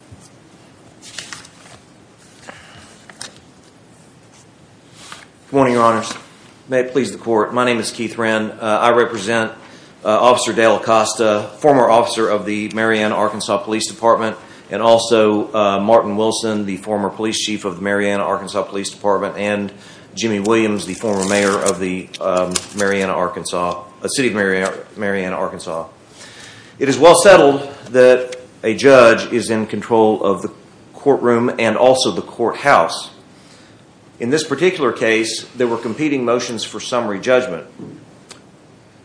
Good morning, your honors. May it please the court, my name is Keith Wren. I represent Officer Dale Acosta, former officer of the Mariana, Arkansas Police Department, and also Martin Wilson, the former police chief of the Mariana, Arkansas Police Department, and Jimmy Williams, the former mayor of the city of Mariana, Arkansas. It is well settled that a judge is in control of the courtroom and also the courthouse. In this particular case, there were competing motions for summary judgment.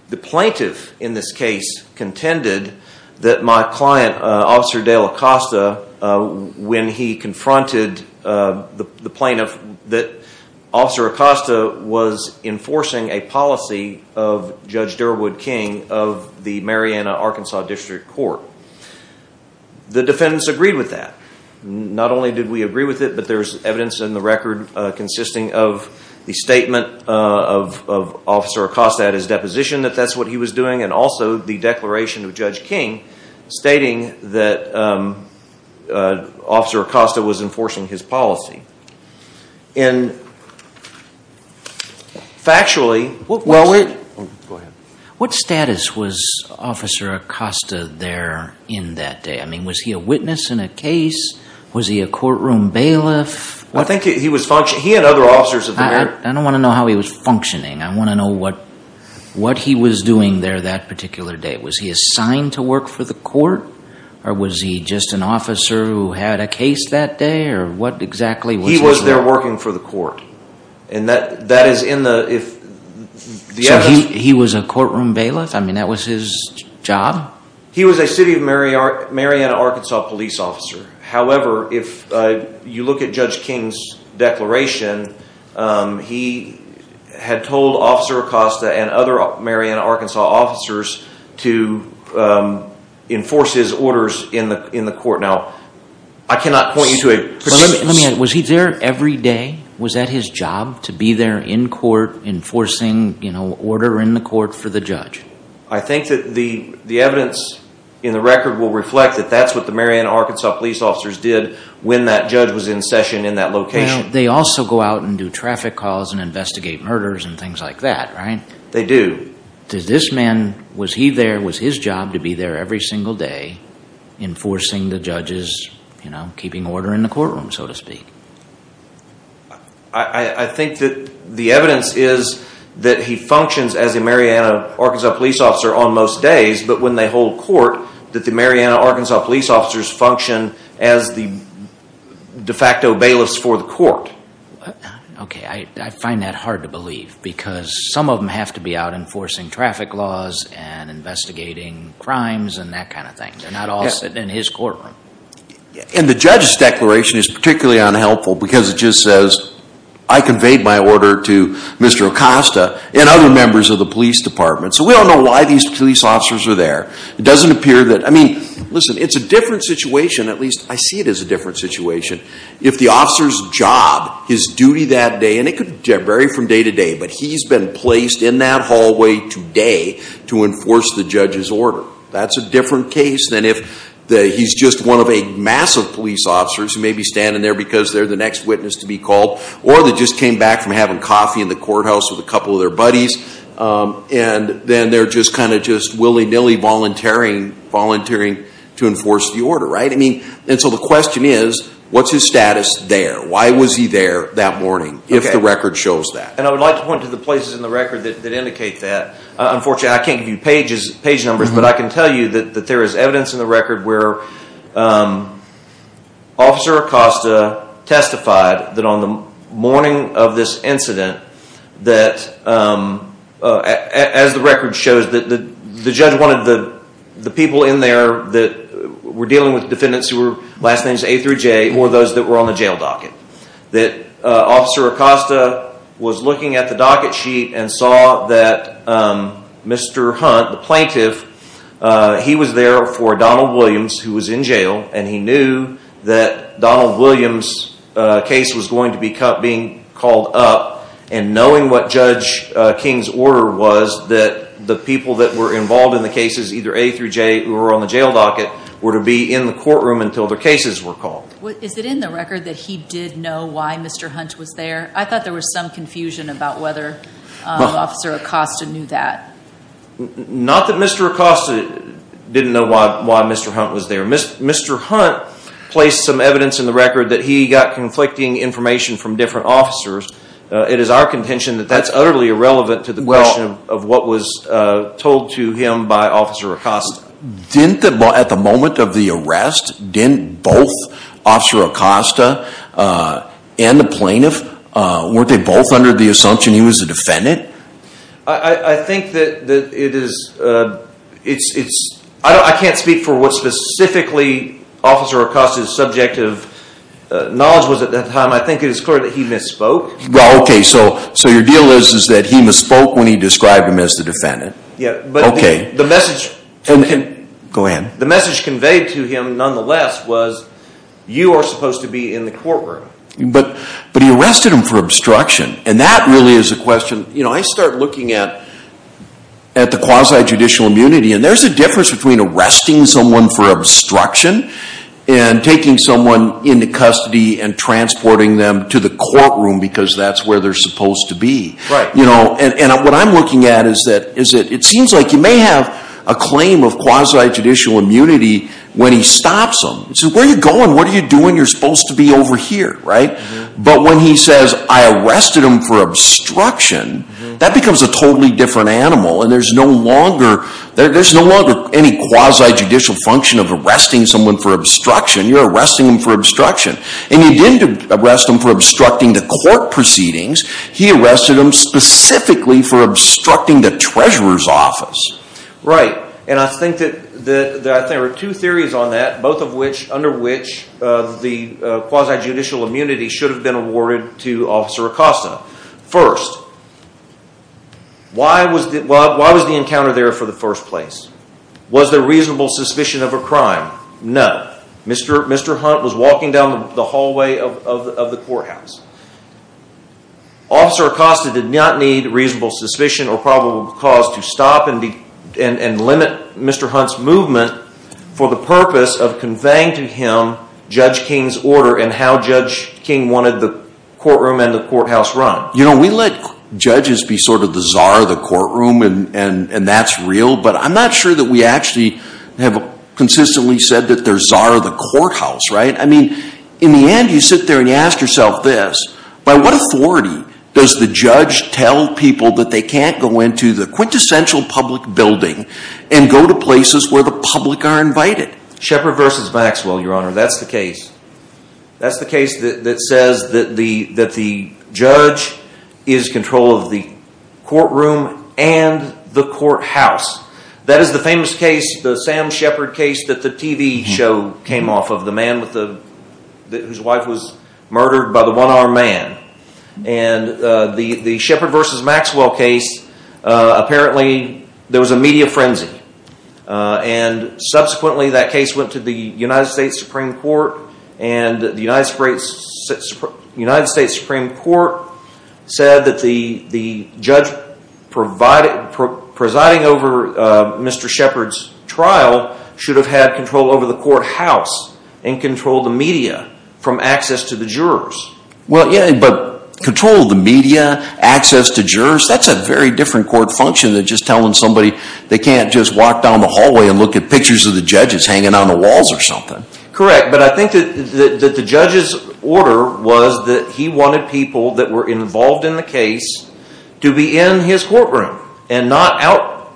The plaintiff in this case contended that my client, Officer Dale Acosta, when he confronted the plaintiff, that Officer Acosta was enforcing a policy of Judge Derwood King of the Mariana, Arkansas District Court. The defendants agreed with that. Not only did we agree with it, but there's evidence in the record consisting of the statement of Officer Acosta at his deposition that that's what he was doing and also the declaration of Judge King stating that Officer Acosta was enforcing his policy. Factually, what status was Officer Acosta there in that day? I mean, was he a witness in a case? Was he a courtroom bailiff? I don't want to know how he was functioning. I want to know what he was doing there that particular day. Was he assigned to work for the court or was he just an officer who had a case that day? He was there working for the court. So he was a courtroom bailiff? I mean, that was his job? He was a City of Mariana, Arkansas police officer. However, if you look at Judge King's declaration, he had told Officer Acosta and other Mariana, Arkansas officers to enforce his orders in the court. Now, I cannot point you to a... Let me ask, was he there every day? Was that his job to be there in court enforcing order in the court for the judge? I think that the evidence in the record will reflect that that's what the Mariana, Arkansas police officers did when that judge was in session in that location. They also go out and do traffic calls and investigate murders and things like that, right? They do. Did this man, was he there, was his job to be there every single day enforcing the judge's, you know, keeping order in the courtroom so to speak? I think that the evidence is that he functions as a Mariana, Arkansas police officer on most days, but when they hold court, that the Mariana, Arkansas police officers function as the de facto bailiffs for the court. Okay, I find that hard to believe because some of them have to be out enforcing traffic laws and investigating crimes and that kind of thing. They're not all sitting in his courtroom. And the judge's declaration is particularly unhelpful because it just says, I conveyed my order to Mr. Acosta and other members of the police department. So we don't know why these police officers are there. It doesn't at least, I see it as a different situation. If the officer's job, his duty that day, and it could vary from day to day, but he's been placed in that hallway today to enforce the judge's order. That's a different case than if he's just one of a mass of police officers who may be standing there because they're the next witness to be called or they just came back from having coffee in the courthouse with a couple of their buddies and then they're kind of just willy-nilly volunteering to enforce the order, right? And so the question is, what's his status there? Why was he there that morning, if the record shows that? And I would like to point to the places in the record that indicate that. Unfortunately, I can't give you page numbers, but I can tell you that there is evidence in the record where Officer Acosta testified that on the morning of this incident, that as the record shows, that the judge wanted the people in there that were dealing with defendants who were last names A through J, more those that were on the jail docket. That Officer Acosta was looking at the docket sheet and saw that Mr. Hunt, the plaintiff, he was there for Donald Williams who was in jail and he knew that Donald Williams' case was going to be caught being called up and knowing what Judge King's order was that the people that were involved in the cases either A through J who were on the jail docket were to be in the courtroom until their cases were called. Is it in the record that he did know why Mr. Hunt was there? I thought there was some confusion about whether Officer Acosta knew that. Not that Mr. Acosta didn't know why Mr. Hunt was there. Mr. Hunt placed some evidence in the record that he got conflicting information from different officers. It is our contention that that's utterly irrelevant to the question of what was told to him by Officer Acosta. At the moment of the arrest, didn't both Officer Acosta and the plaintiff, weren't they both under the assumption he was a defendant? I can't speak for what specifically Officer Acosta's subject of knowledge was at that time. I think it is clear that he misspoke. So your deal is that he misspoke when he described him as the defendant? Yes. The message conveyed to him nonetheless was you are supposed to be in the courtroom. But he arrested him for obstruction and that really is a question. I start looking at the quasi-judicial immunity and there is a difference between arresting someone for obstruction and taking someone into custody and transporting them to the courtroom because that's where they are supposed to be. What I'm looking at is that it seems like you may have a claim of quasi-judicial immunity when he stops them. Where are you going? What are you doing? You are supposed to be over here, right? But when he says I arrested him for obstruction, that becomes a totally different animal. There is no longer any quasi-judicial function of arresting someone for obstruction. You are arresting him for obstruction. You didn't arrest him for obstructing the court proceedings. He arrested him specifically for obstructing the treasurer's office. Right. I think there are two theories on that, both of which, under which the quasi-judicial immunity should have been awarded to Officer Acosta. First, why was the encounter there for the first place? Was there reasonable suspicion of a crime? No. Mr. Hunt was walking down the hallway of the courthouse. Officer Acosta did not need reasonable suspicion or probable cause to stop and limit Mr. Hunt's movement for the purpose of Judge King's order and how Judge King wanted the courtroom and the courthouse run. You know, we let judges be sort of the czar of the courtroom, and that's real, but I'm not sure that we actually have consistently said that they're czar of the courthouse, right? I mean, in the end, you sit there and you ask yourself this, by what authority does the judge tell people that they can't go into the quintessential public building and go to places where the public are not allowed? That's the case. That's the case that says that the judge is in control of the courtroom and the courthouse. That is the famous case, the Sam Shepard case that the TV show came off of, the man whose wife was murdered by the one-armed man. And the Shepard versus Maxwell case, apparently there was a media frenzy, and subsequently that case went to the United States Supreme Court, and the United States Supreme Court said that the judge presiding over Mr. Shepard's trial should have had control over the courthouse and control of the media from access to the jurors. Well, yeah, but control of the media, access to jurors, that's a very different court function than just telling somebody they can't just walk down the hallway and look at pictures of the judges hanging on the walls or something. Correct, but I think that the judge's order was that he wanted people that were involved in the case to be in his courtroom and not out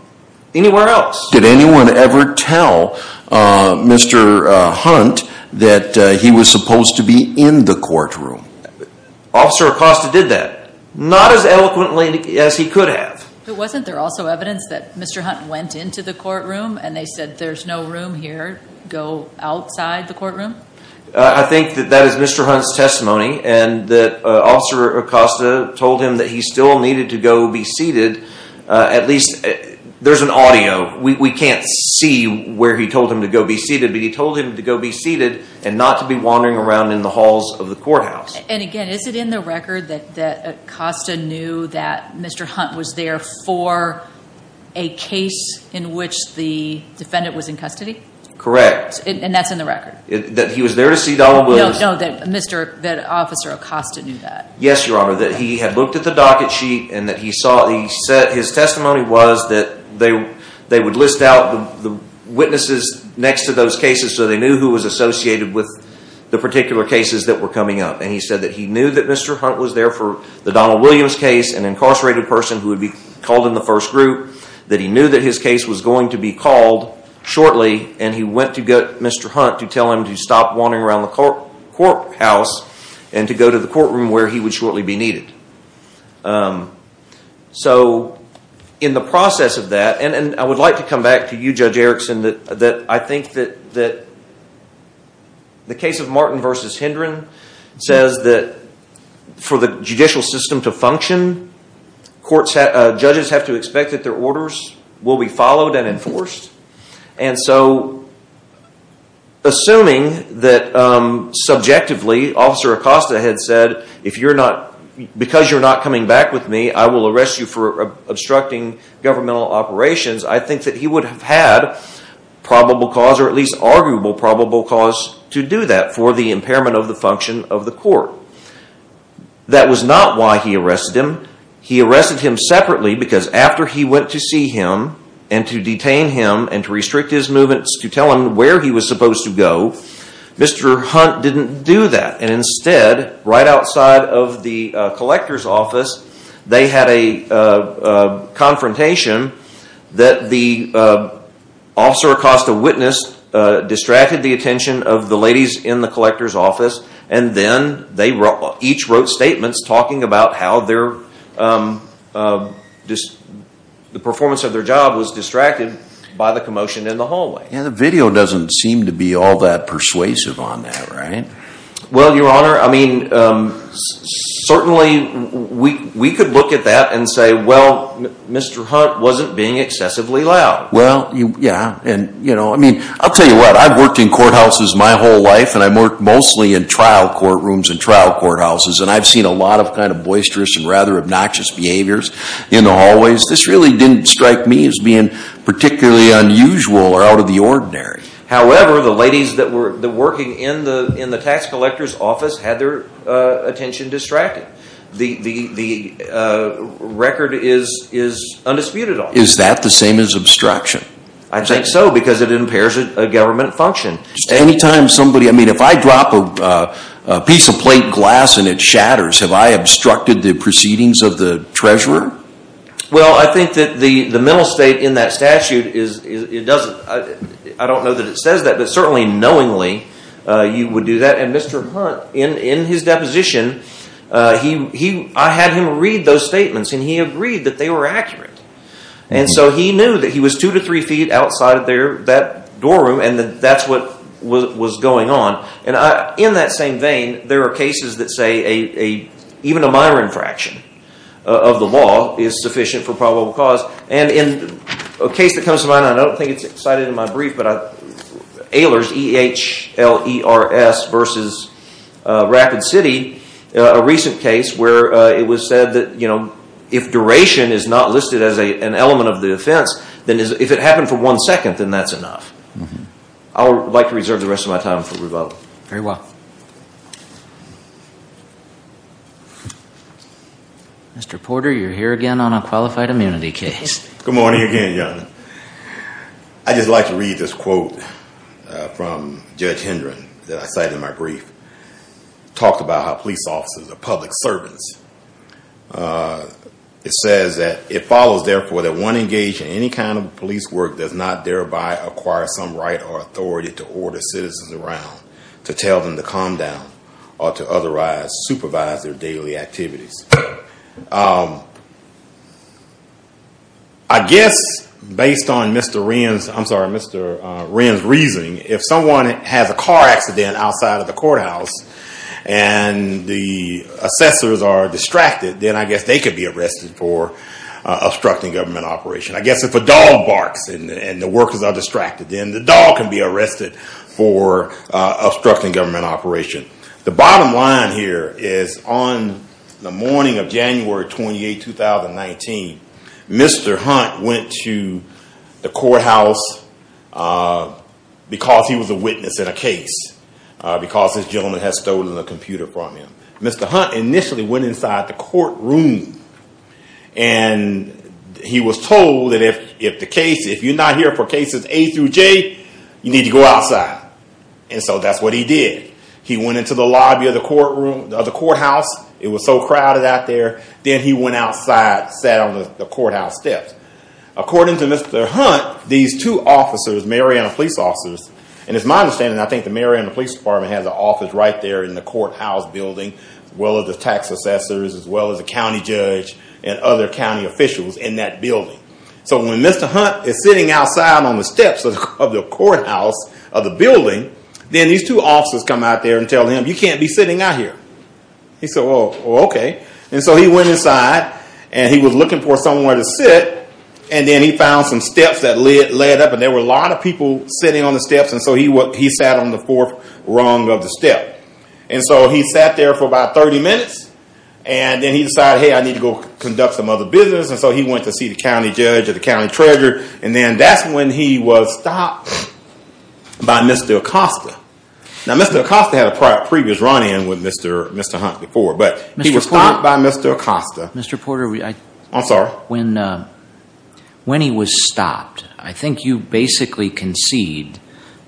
anywhere else. Did anyone ever tell Mr. Hunt that he was supposed to be in the courtroom? Officer Acosta did that, not as eloquently as he could have. But wasn't there also evidence that Mr. Hunt went into the courtroom and they said there's no room here, go outside the courtroom? I think that that is Mr. Hunt's testimony and that Officer Acosta told him that he still needed to go be seated. At least, there's an audio, we can't see where he told him to go be seated, but he told him to go be seated and not to be wandering around in the halls of the courthouse. And again, is it in the record that Acosta knew that Mr. Hunt was there for a case in which the defendant was in custody? Correct. And that's in the record? That he was there to see Donald Williams? No, that Officer Acosta knew that. Yes, Your Honor, that he had looked at the docket sheet and that his testimony was that they would list out the witnesses next to those cases so they knew who was associated with the particular cases that were coming up. And he said that he knew that Mr. Hunt was there for the Donald Williams case, an incarcerated person who would be called in the first group, that he knew that his case was going to be called shortly and he went to get Mr. Hunt to tell him to stop wandering around the courthouse and to go to the courtroom where he would shortly be needed. So, in the process of that, and I would like to come back to you, Judge Erickson, that I think that the case of Martin v. Hendren says that for the judicial system to function, judges have to expect that their orders will be followed and enforced. And so, assuming that subjectively, Officer Acosta had said, because you're not coming back with me, I will arrest you for obstructing governmental operations, I think that he would have had probable cause or at least arguable probable cause to do that for the impairment of the function of the court. That was not why he arrested him. He arrested him separately because after he went to see him and to detain him and to restrict his movements to tell him where he was supposed to go, Mr. Hunt didn't do that. And instead, right outside of the collector's office, they had a confrontation that the Officer Acosta witnessed distracted the attention of the ladies in the collector's office and then they each wrote statements talking about how their performance of their job was distracted by the commotion in the hallway. Yeah, the video doesn't seem to be all that persuasive on that, right? Well, Your Honor, certainly we could look at that and say, well, Mr. Hunt wasn't being excessively loud. Well, yeah. I'll tell you what, I've worked in courthouses my whole life and I've worked mostly in trial courtrooms and trial courthouses and I've seen a lot of boisterous and rather obnoxious behaviors in the hallways. This really didn't strike me as being particularly unusual or out of the ordinary. However, the ladies that were working in the tax collector's office had their attention distracted. The record is undisputed on that. Is that the same as obstruction? I think so because it impairs a government function. Anytime somebody, I mean, if I drop a piece of plate glass and it shatters, have I obstructed the proceedings of the treasurer? Well, I think that the mental state in that statute, I don't know that it says that, but certainly knowingly you would do that. And Mr. Hunt, in his deposition, I had him read those statements and he agreed that they were accurate. And so he knew that he was two to three feet outside of that door room and that's what was going on. And in that same vein, there are cases that say, even a minor infraction of the law is sufficient for probable cause. And in a case that comes to mind, I don't think it's cited in my brief, but Ehlers, E-H-L-E-R-S versus Rapid City, a recent case where it was said that if duration is not listed as an element of the offense, then if it happened for one second, then that's enough. I would like to reserve the rest of my time for rebuttal. Very well. Mr. Porter, you're here again on a qualified immunity case. Good morning again, gentlemen. I'd just like to read this quote from Judge Hendren that I cited in my brief. It talked about how police officers are public servants. It says that it follows, therefore, that one engaged in any kind of police work does not thereby acquire some right or authority to order citizens around, to tell them to calm down, or to otherwise supervise their daily activities. I guess, based on Mr. Wren's reasoning, if someone has a car accident outside of the courthouse and the assessors are distracted, then I guess they could be arrested for obstructing government operation. I guess if a dog barks and the workers are distracted, then the dog can be arrested for obstructing government operation. The bottom line here is on the morning of January 28, 2019, Mr. Hunt went to the courthouse because he was a witness in a case, because this gentleman had stolen a computer from him. Mr. Hunt initially went inside the courtroom. He was told that if you're not here for cases A through J, you need to go outside. That's what he did. He went into the lobby of the courthouse. It was so crowded out there. Then he went outside, sat on the courthouse steps. According to Mr. Hunt, these two officers, Mariana police officers, and it's my understanding, the Mariana police department has an office right there in the courthouse building, as well as the tax assessors, as well as the county judge and other county officials in that building. When Mr. Hunt is sitting outside on the steps of the courthouse of the building, then these two officers come out there and tell him, you can't be sitting out here. He said, well, okay. He went inside and he was looking for somewhere to sit. Then he found some steps that led up. There were a lot of people sitting on the steps, so he sat on the fourth rung of the step. He sat there for about 30 minutes. Then he decided, hey, I need to go conduct some other business, so he went to see the county judge or the county treasurer. Then that's when he was stopped by Mr. Acosta. Mr. Acosta had a previous run-in with Mr. Hunt before, but he was stopped by Mr. Acosta. Mr. Porter, when he was stopped, I think you basically concede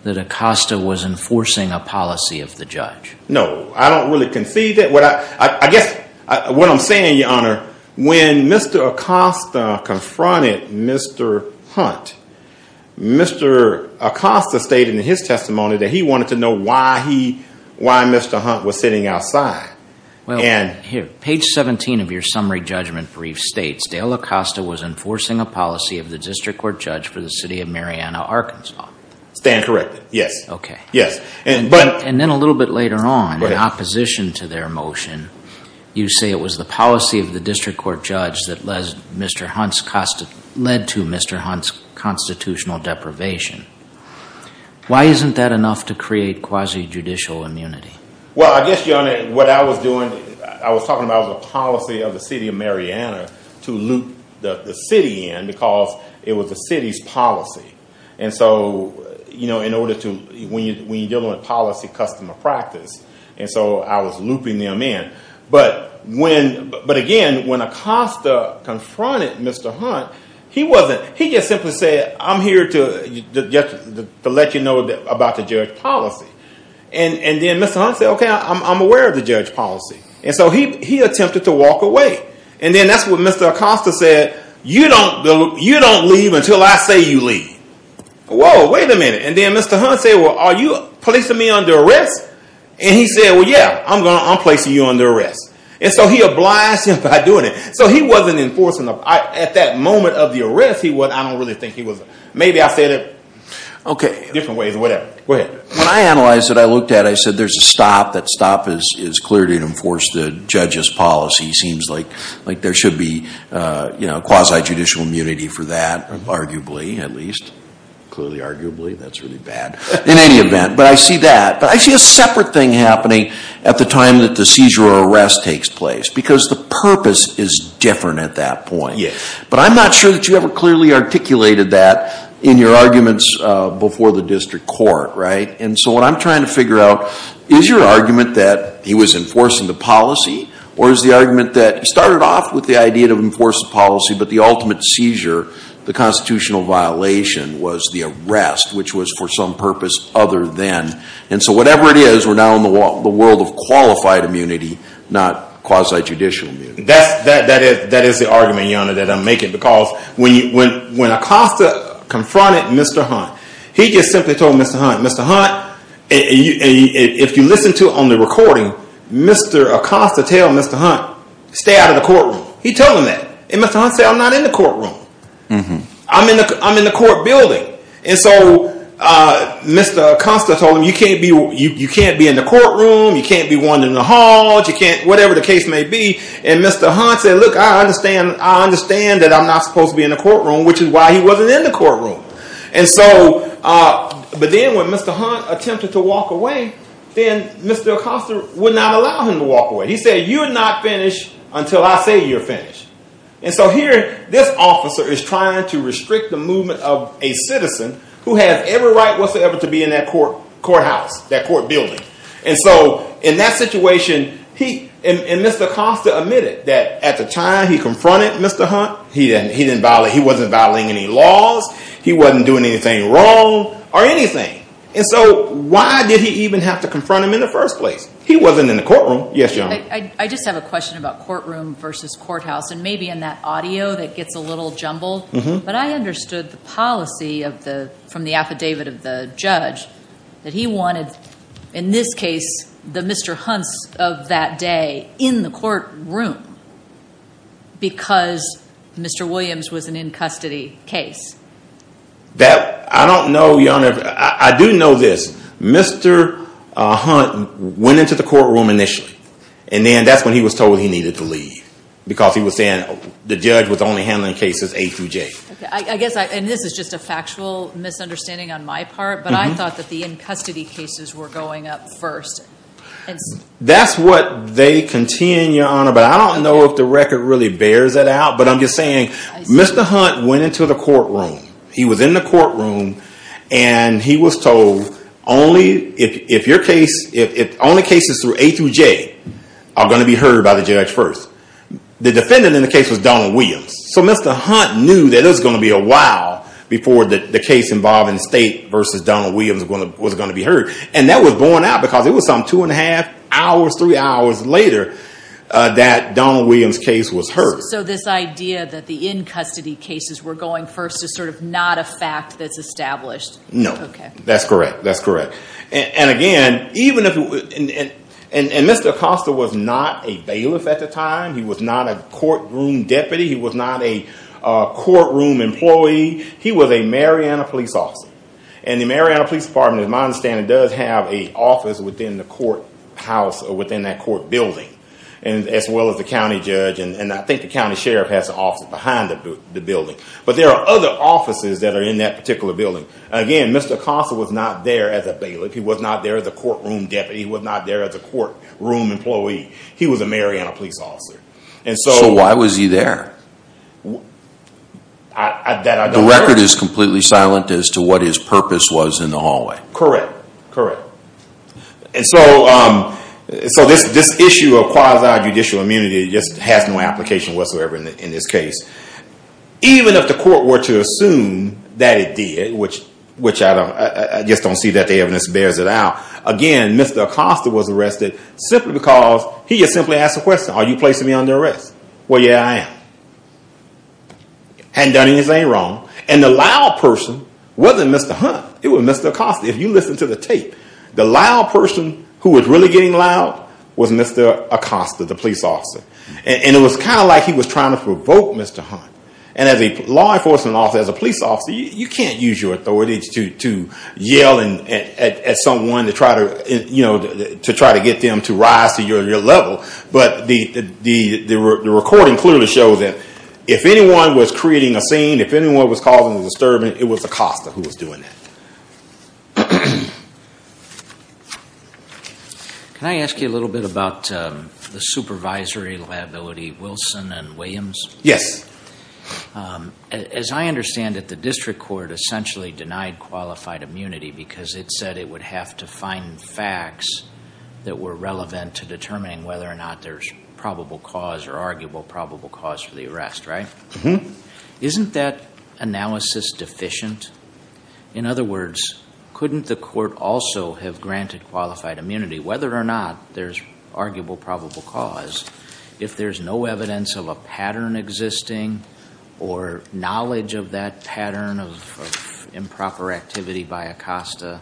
that Acosta was enforcing a policy of the judge. No, I don't really concede that. What I'm saying, Your Honor, when Mr. Acosta confronted Mr. Hunt, Mr. Acosta stated in his testimony that he wanted to know why Mr. Hunt was sitting outside. Well, here, page 17 of your summary judgment brief states, Dale Acosta was enforcing a policy of the district court judge for the city of Mariana, Arkansas. Stand corrected, yes. Okay. Yes. And then a little bit later on, in opposition to their motion, you say it was the policy of the district court judge that led to Mr. Hunt's constitutional deprivation. Why isn't that enough to create quasi-judicial immunity? Well, I guess, Your Honor, what I was doing, I was talking about the policy of the city of Mariana to loop the city in because it was the city's policy. And so when you're dealing with policy, customer practice, and so I was looping them in. But again, when Acosta confronted Mr. Hunt, he just simply said, I'm here to let you know about the judge policy. And then Mr. Hunt said, okay, I'm aware of the judge policy. And so he attempted to walk away. And then that's when Mr. Acosta said, you don't leave until I say you leave. Whoa, wait a minute. And then Mr. Hunt said, well, are you placing me under arrest? And he said, well, yeah, I'm placing you under arrest. And so he obliged him by doing it. So he wasn't enforcing, at that moment of the arrest, I don't really think he was. Maybe I said it, okay, different ways, whatever. When I analyzed it, I looked at it, I said there's a stop, that stop is clearly to enforce the judge's policy. Seems like there should be quasi-judicial immunity for that, arguably, at least. Clearly, arguably, that's really bad. In any event, but I see that. But I see a separate thing happening at the time that the seizure or arrest takes place because the purpose is different at that point. But I'm not sure that you ever clearly articulated that in your arguments before the district court, right? And so what I'm trying to figure out, is your argument that he was enforcing the policy or is the argument that he started off with the idea to enforce the policy, but the ultimate seizure, the constitutional violation was the arrest, which was for some purpose other than. And so whatever it is, we're now in the world of qualified immunity, not quasi-judicial immunity. That is the argument, Your Honor, because when Acosta confronted Mr. Hunt, he just simply told Mr. Hunt, Mr. Hunt, if you listen to it on the recording, Mr. Acosta tell Mr. Hunt, stay out of the courtroom. He told him that. And Mr. Hunt said, I'm not in the courtroom. I'm in the court building. And so Mr. Acosta told him, you can't be in the courtroom, you can't be wandering the halls, whatever the case may be. And Mr. Hunt said, look, I understand that I'm not supposed to be in the courtroom, which is why he wasn't in the courtroom. But then when Mr. Hunt attempted to walk away, then Mr. Acosta would not allow him to walk away. He said, you're not finished until I say you're finished. And so here, this officer is trying to restrict the movement of a citizen who has every right whatsoever to be in that courthouse, that court building. And so in that situation, he and Mr. Acosta admitted that at the time he confronted Mr. Hunt, he wasn't violating any laws. He wasn't doing anything wrong or anything. And so why did he even have to confront him in the first place? He wasn't in the courtroom. Yes, ma'am. I just have a question about courtroom versus courthouse and maybe in that audio that gets a little jumbled. But I understood the policy from the affidavit of the judge that he wanted, in this case, the Mr. Hunts of that day in the courtroom because Mr. Williams was an in-custody case. I don't know, Your Honor. I do know this. Mr. Hunt went into the courtroom initially. And then that's when he was told he needed to leave because he was saying the judge was only handling cases A through J. I guess, and this is just a factual misunderstanding on my part. But I thought that the in-custody cases were going up first. That's what they contend, Your Honor. But I don't know if the record really bears that out. But I'm just saying Mr. Hunt went into the courtroom. He was in the courtroom. And he was told only if your case, if only cases through A through J are going to be heard by the judge first. The defendant in the case was Donald Williams. So Mr. Hunt knew that it was going to be a while before the case involving the state versus Donald Williams was going to be heard. And that was borne out because it was some two and a half hours, three hours later that Donald Williams' case was heard. So this idea that the in-custody cases were going first is sort of not a fact that's established? No. That's correct. That's correct. And again, even if, and Mr. Acosta was not a bailiff at the time. He was not a courtroom deputy. He was not a courtroom employee. He was a Mariana Police officer. And the Mariana Police Department, as I understand it, does have an office within the courthouse, or within that court building, as well as the county judge. And I think the county sheriff has an office behind the building. But there are other offices that are in that particular building. Again, Mr. Acosta was not there as a bailiff. He was not there as a courtroom deputy. He was not there as a courtroom employee. He was a Mariana Police officer. And so why was he there? The record is completely silent as to what his purpose was in the hallway. Correct. Correct. And so this issue of quasi-judicial immunity just has no application whatsoever in this case. Even if the court were to assume that it did, which I just don't see that the evidence bears it out. Again, Mr. Acosta was arrested simply because he had simply asked the question, are you placing me under arrest? Well, yeah, I am. Hadn't done anything wrong. And the loud person wasn't Mr. Hunt. It was Mr. Acosta. If you listen to the tape, the loud person who was really getting loud was Mr. Acosta, the police officer. And it was kind of like he was trying to provoke Mr. Hunt. And as a law enforcement officer, as a police officer, you can't use your authority to yell at someone to try to get them to rise to your level. But the recording clearly shows that if anyone was creating a scene, if anyone was causing a disturbance, it was Acosta who was doing that. Can I ask you a little bit about the supervisory liability, Wilson and Williams? Yes. As I understand it, the district court essentially denied qualified immunity because it said it would have to find facts that were relevant to determining whether or not there's probable cause or arguable probable cause for the arrest, right? Isn't that analysis deficient? In other words, couldn't the court also have granted qualified immunity, whether or not there's arguable probable cause, if there's no evidence of a pattern existing or knowledge of that pattern of improper activity by Acosta,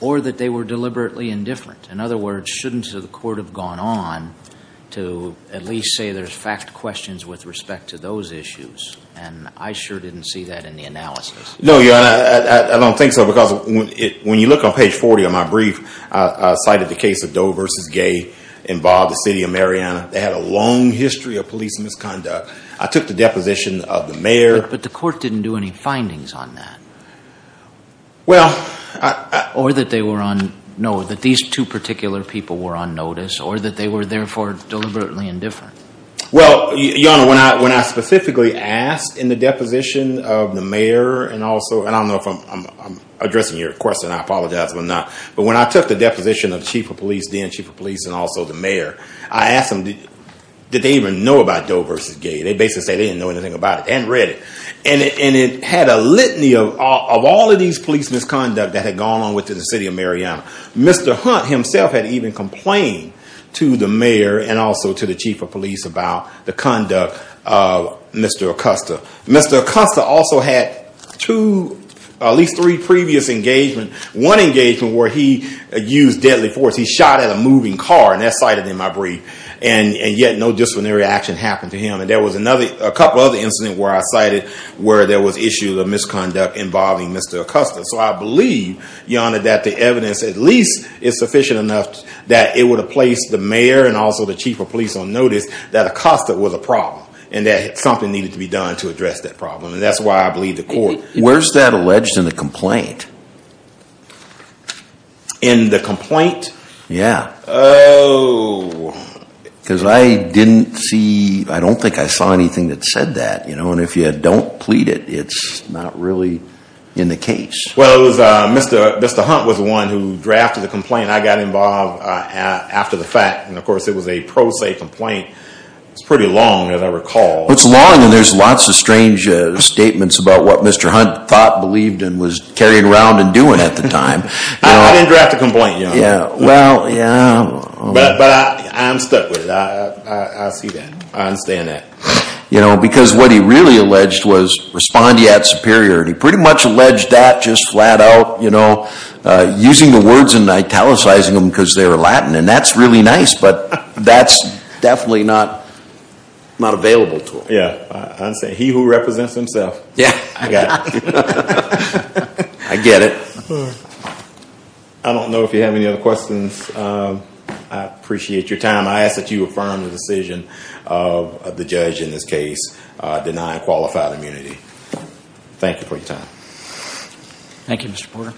or that they were deliberately indifferent? In other words, shouldn't the court have gone on to at least say there's fact questions with respect to those issues? And I sure didn't see that in the analysis. No, Your Honor. I don't think so. Because when you look on page 40 of my brief, I cited the case of Doe versus Gay in Bob, the city of Mariana. They had a long history of police misconduct. I took the deposition of the mayor- But the court didn't do any findings on that. Well, I- Or that they were on, no, that these two particular people were on notice, or that they were therefore deliberately indifferent. Well, Your Honor, when I specifically asked in the deposition of the mayor and also, and I don't know if I'm addressing your question. I apologize if I'm not. But when I took the deposition of chief of police, then chief of police and also the mayor, I asked them, did they even know about Doe versus Gay? They basically said they didn't know anything about it. They hadn't read it. And it had a litany of all of these police misconduct that had gone on within the city of Mariana. Mr. Hunt himself had even complained to the mayor and also to the chief of police about the conduct of Mr. Acosta. Mr. Acosta also had two, at least three previous engagement. One engagement where he used deadly force. He shot at a moving car, and that's cited in my brief. And yet no disciplinary action happened to him. And there was another, a couple other incidents where I cited where there was issues of misconduct involving Mr. Acosta. So I believe, Your Honor, that the evidence at least is sufficient enough that it would have placed the mayor and also the chief of police on notice that Acosta was a problem and that something needed to be done to address that problem. And that's why I believe the court... Where's that alleged in the complaint? In the complaint? Yeah. Because I didn't see, I don't think I saw anything that said that. And if you don't plead it, it's not really in the case. Well, it was Mr. Hunt was the one who involved after the fact. And of course it was a pro se complaint. It's pretty long as I recall. It's long and there's lots of strange statements about what Mr. Hunt thought, believed, and was carrying around and doing at the time. I didn't draft a complaint, Your Honor. Yeah. Well, yeah. But I'm stuck with it. I see that. I understand that. Because what he really alleged was respondeat superior. And he pretty much alleged that just because they were Latin. And that's really nice, but that's definitely not available to him. Yeah. He who represents himself. Yeah. I get it. I don't know if you have any other questions. I appreciate your time. I ask that you affirm the decision of the judge in this case, denying qualified immunity. Thank you for your time. Thank you, Mr. Porter.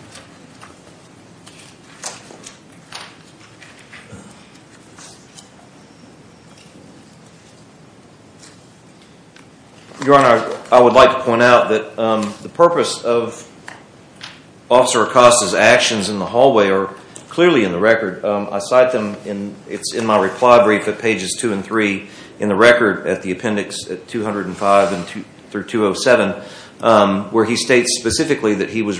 Your Honor, I would like to point out that the purpose of Officer Acosta's actions in the hallway are clearly in the record. I cite them and it's in my reply brief at pages two and three in the record at the appendix at 205 through 207, where he states specifically that he was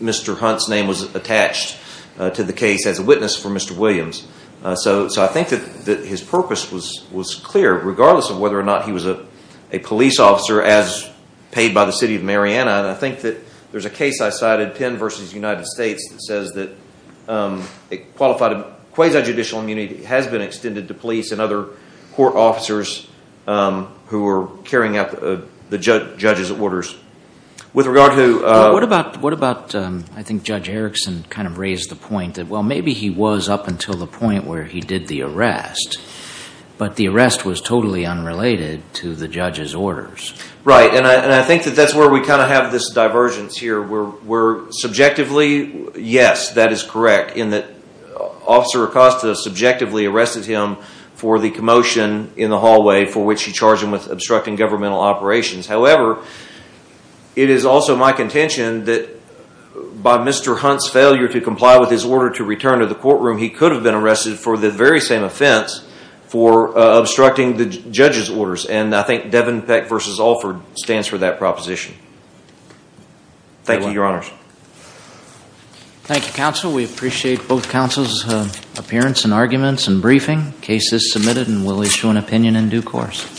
Mr. Hunt's name was attached to the case as a witness for Mr. Williams. So I think that his purpose was clear, regardless of whether or not he was a police officer as paid by the city of Mariana. And I think that there's a case I cited, Penn versus United States, that says that qualified quasi-judicial immunity has been extended to police and other court I think Judge Erickson kind of raised the point that, well, maybe he was up until the point where he did the arrest, but the arrest was totally unrelated to the judge's orders. Right. And I think that that's where we kind of have this divergence here where we're subjectively, yes, that is correct in that Officer Acosta subjectively arrested him for the commotion in the hallway for which he charged him with obstructing governmental operations. However, it is also my contention that by Mr. Hunt's failure to comply with his order to return to the courtroom, he could have been arrested for the very same offense for obstructing the judge's orders. And I think Devin Peck versus Alford stands for that proposition. Thank you, your honors. Thank you, counsel. We appreciate both counsel's appearance and arguments and briefing. Case is submitted and we'll issue an opinion in due course.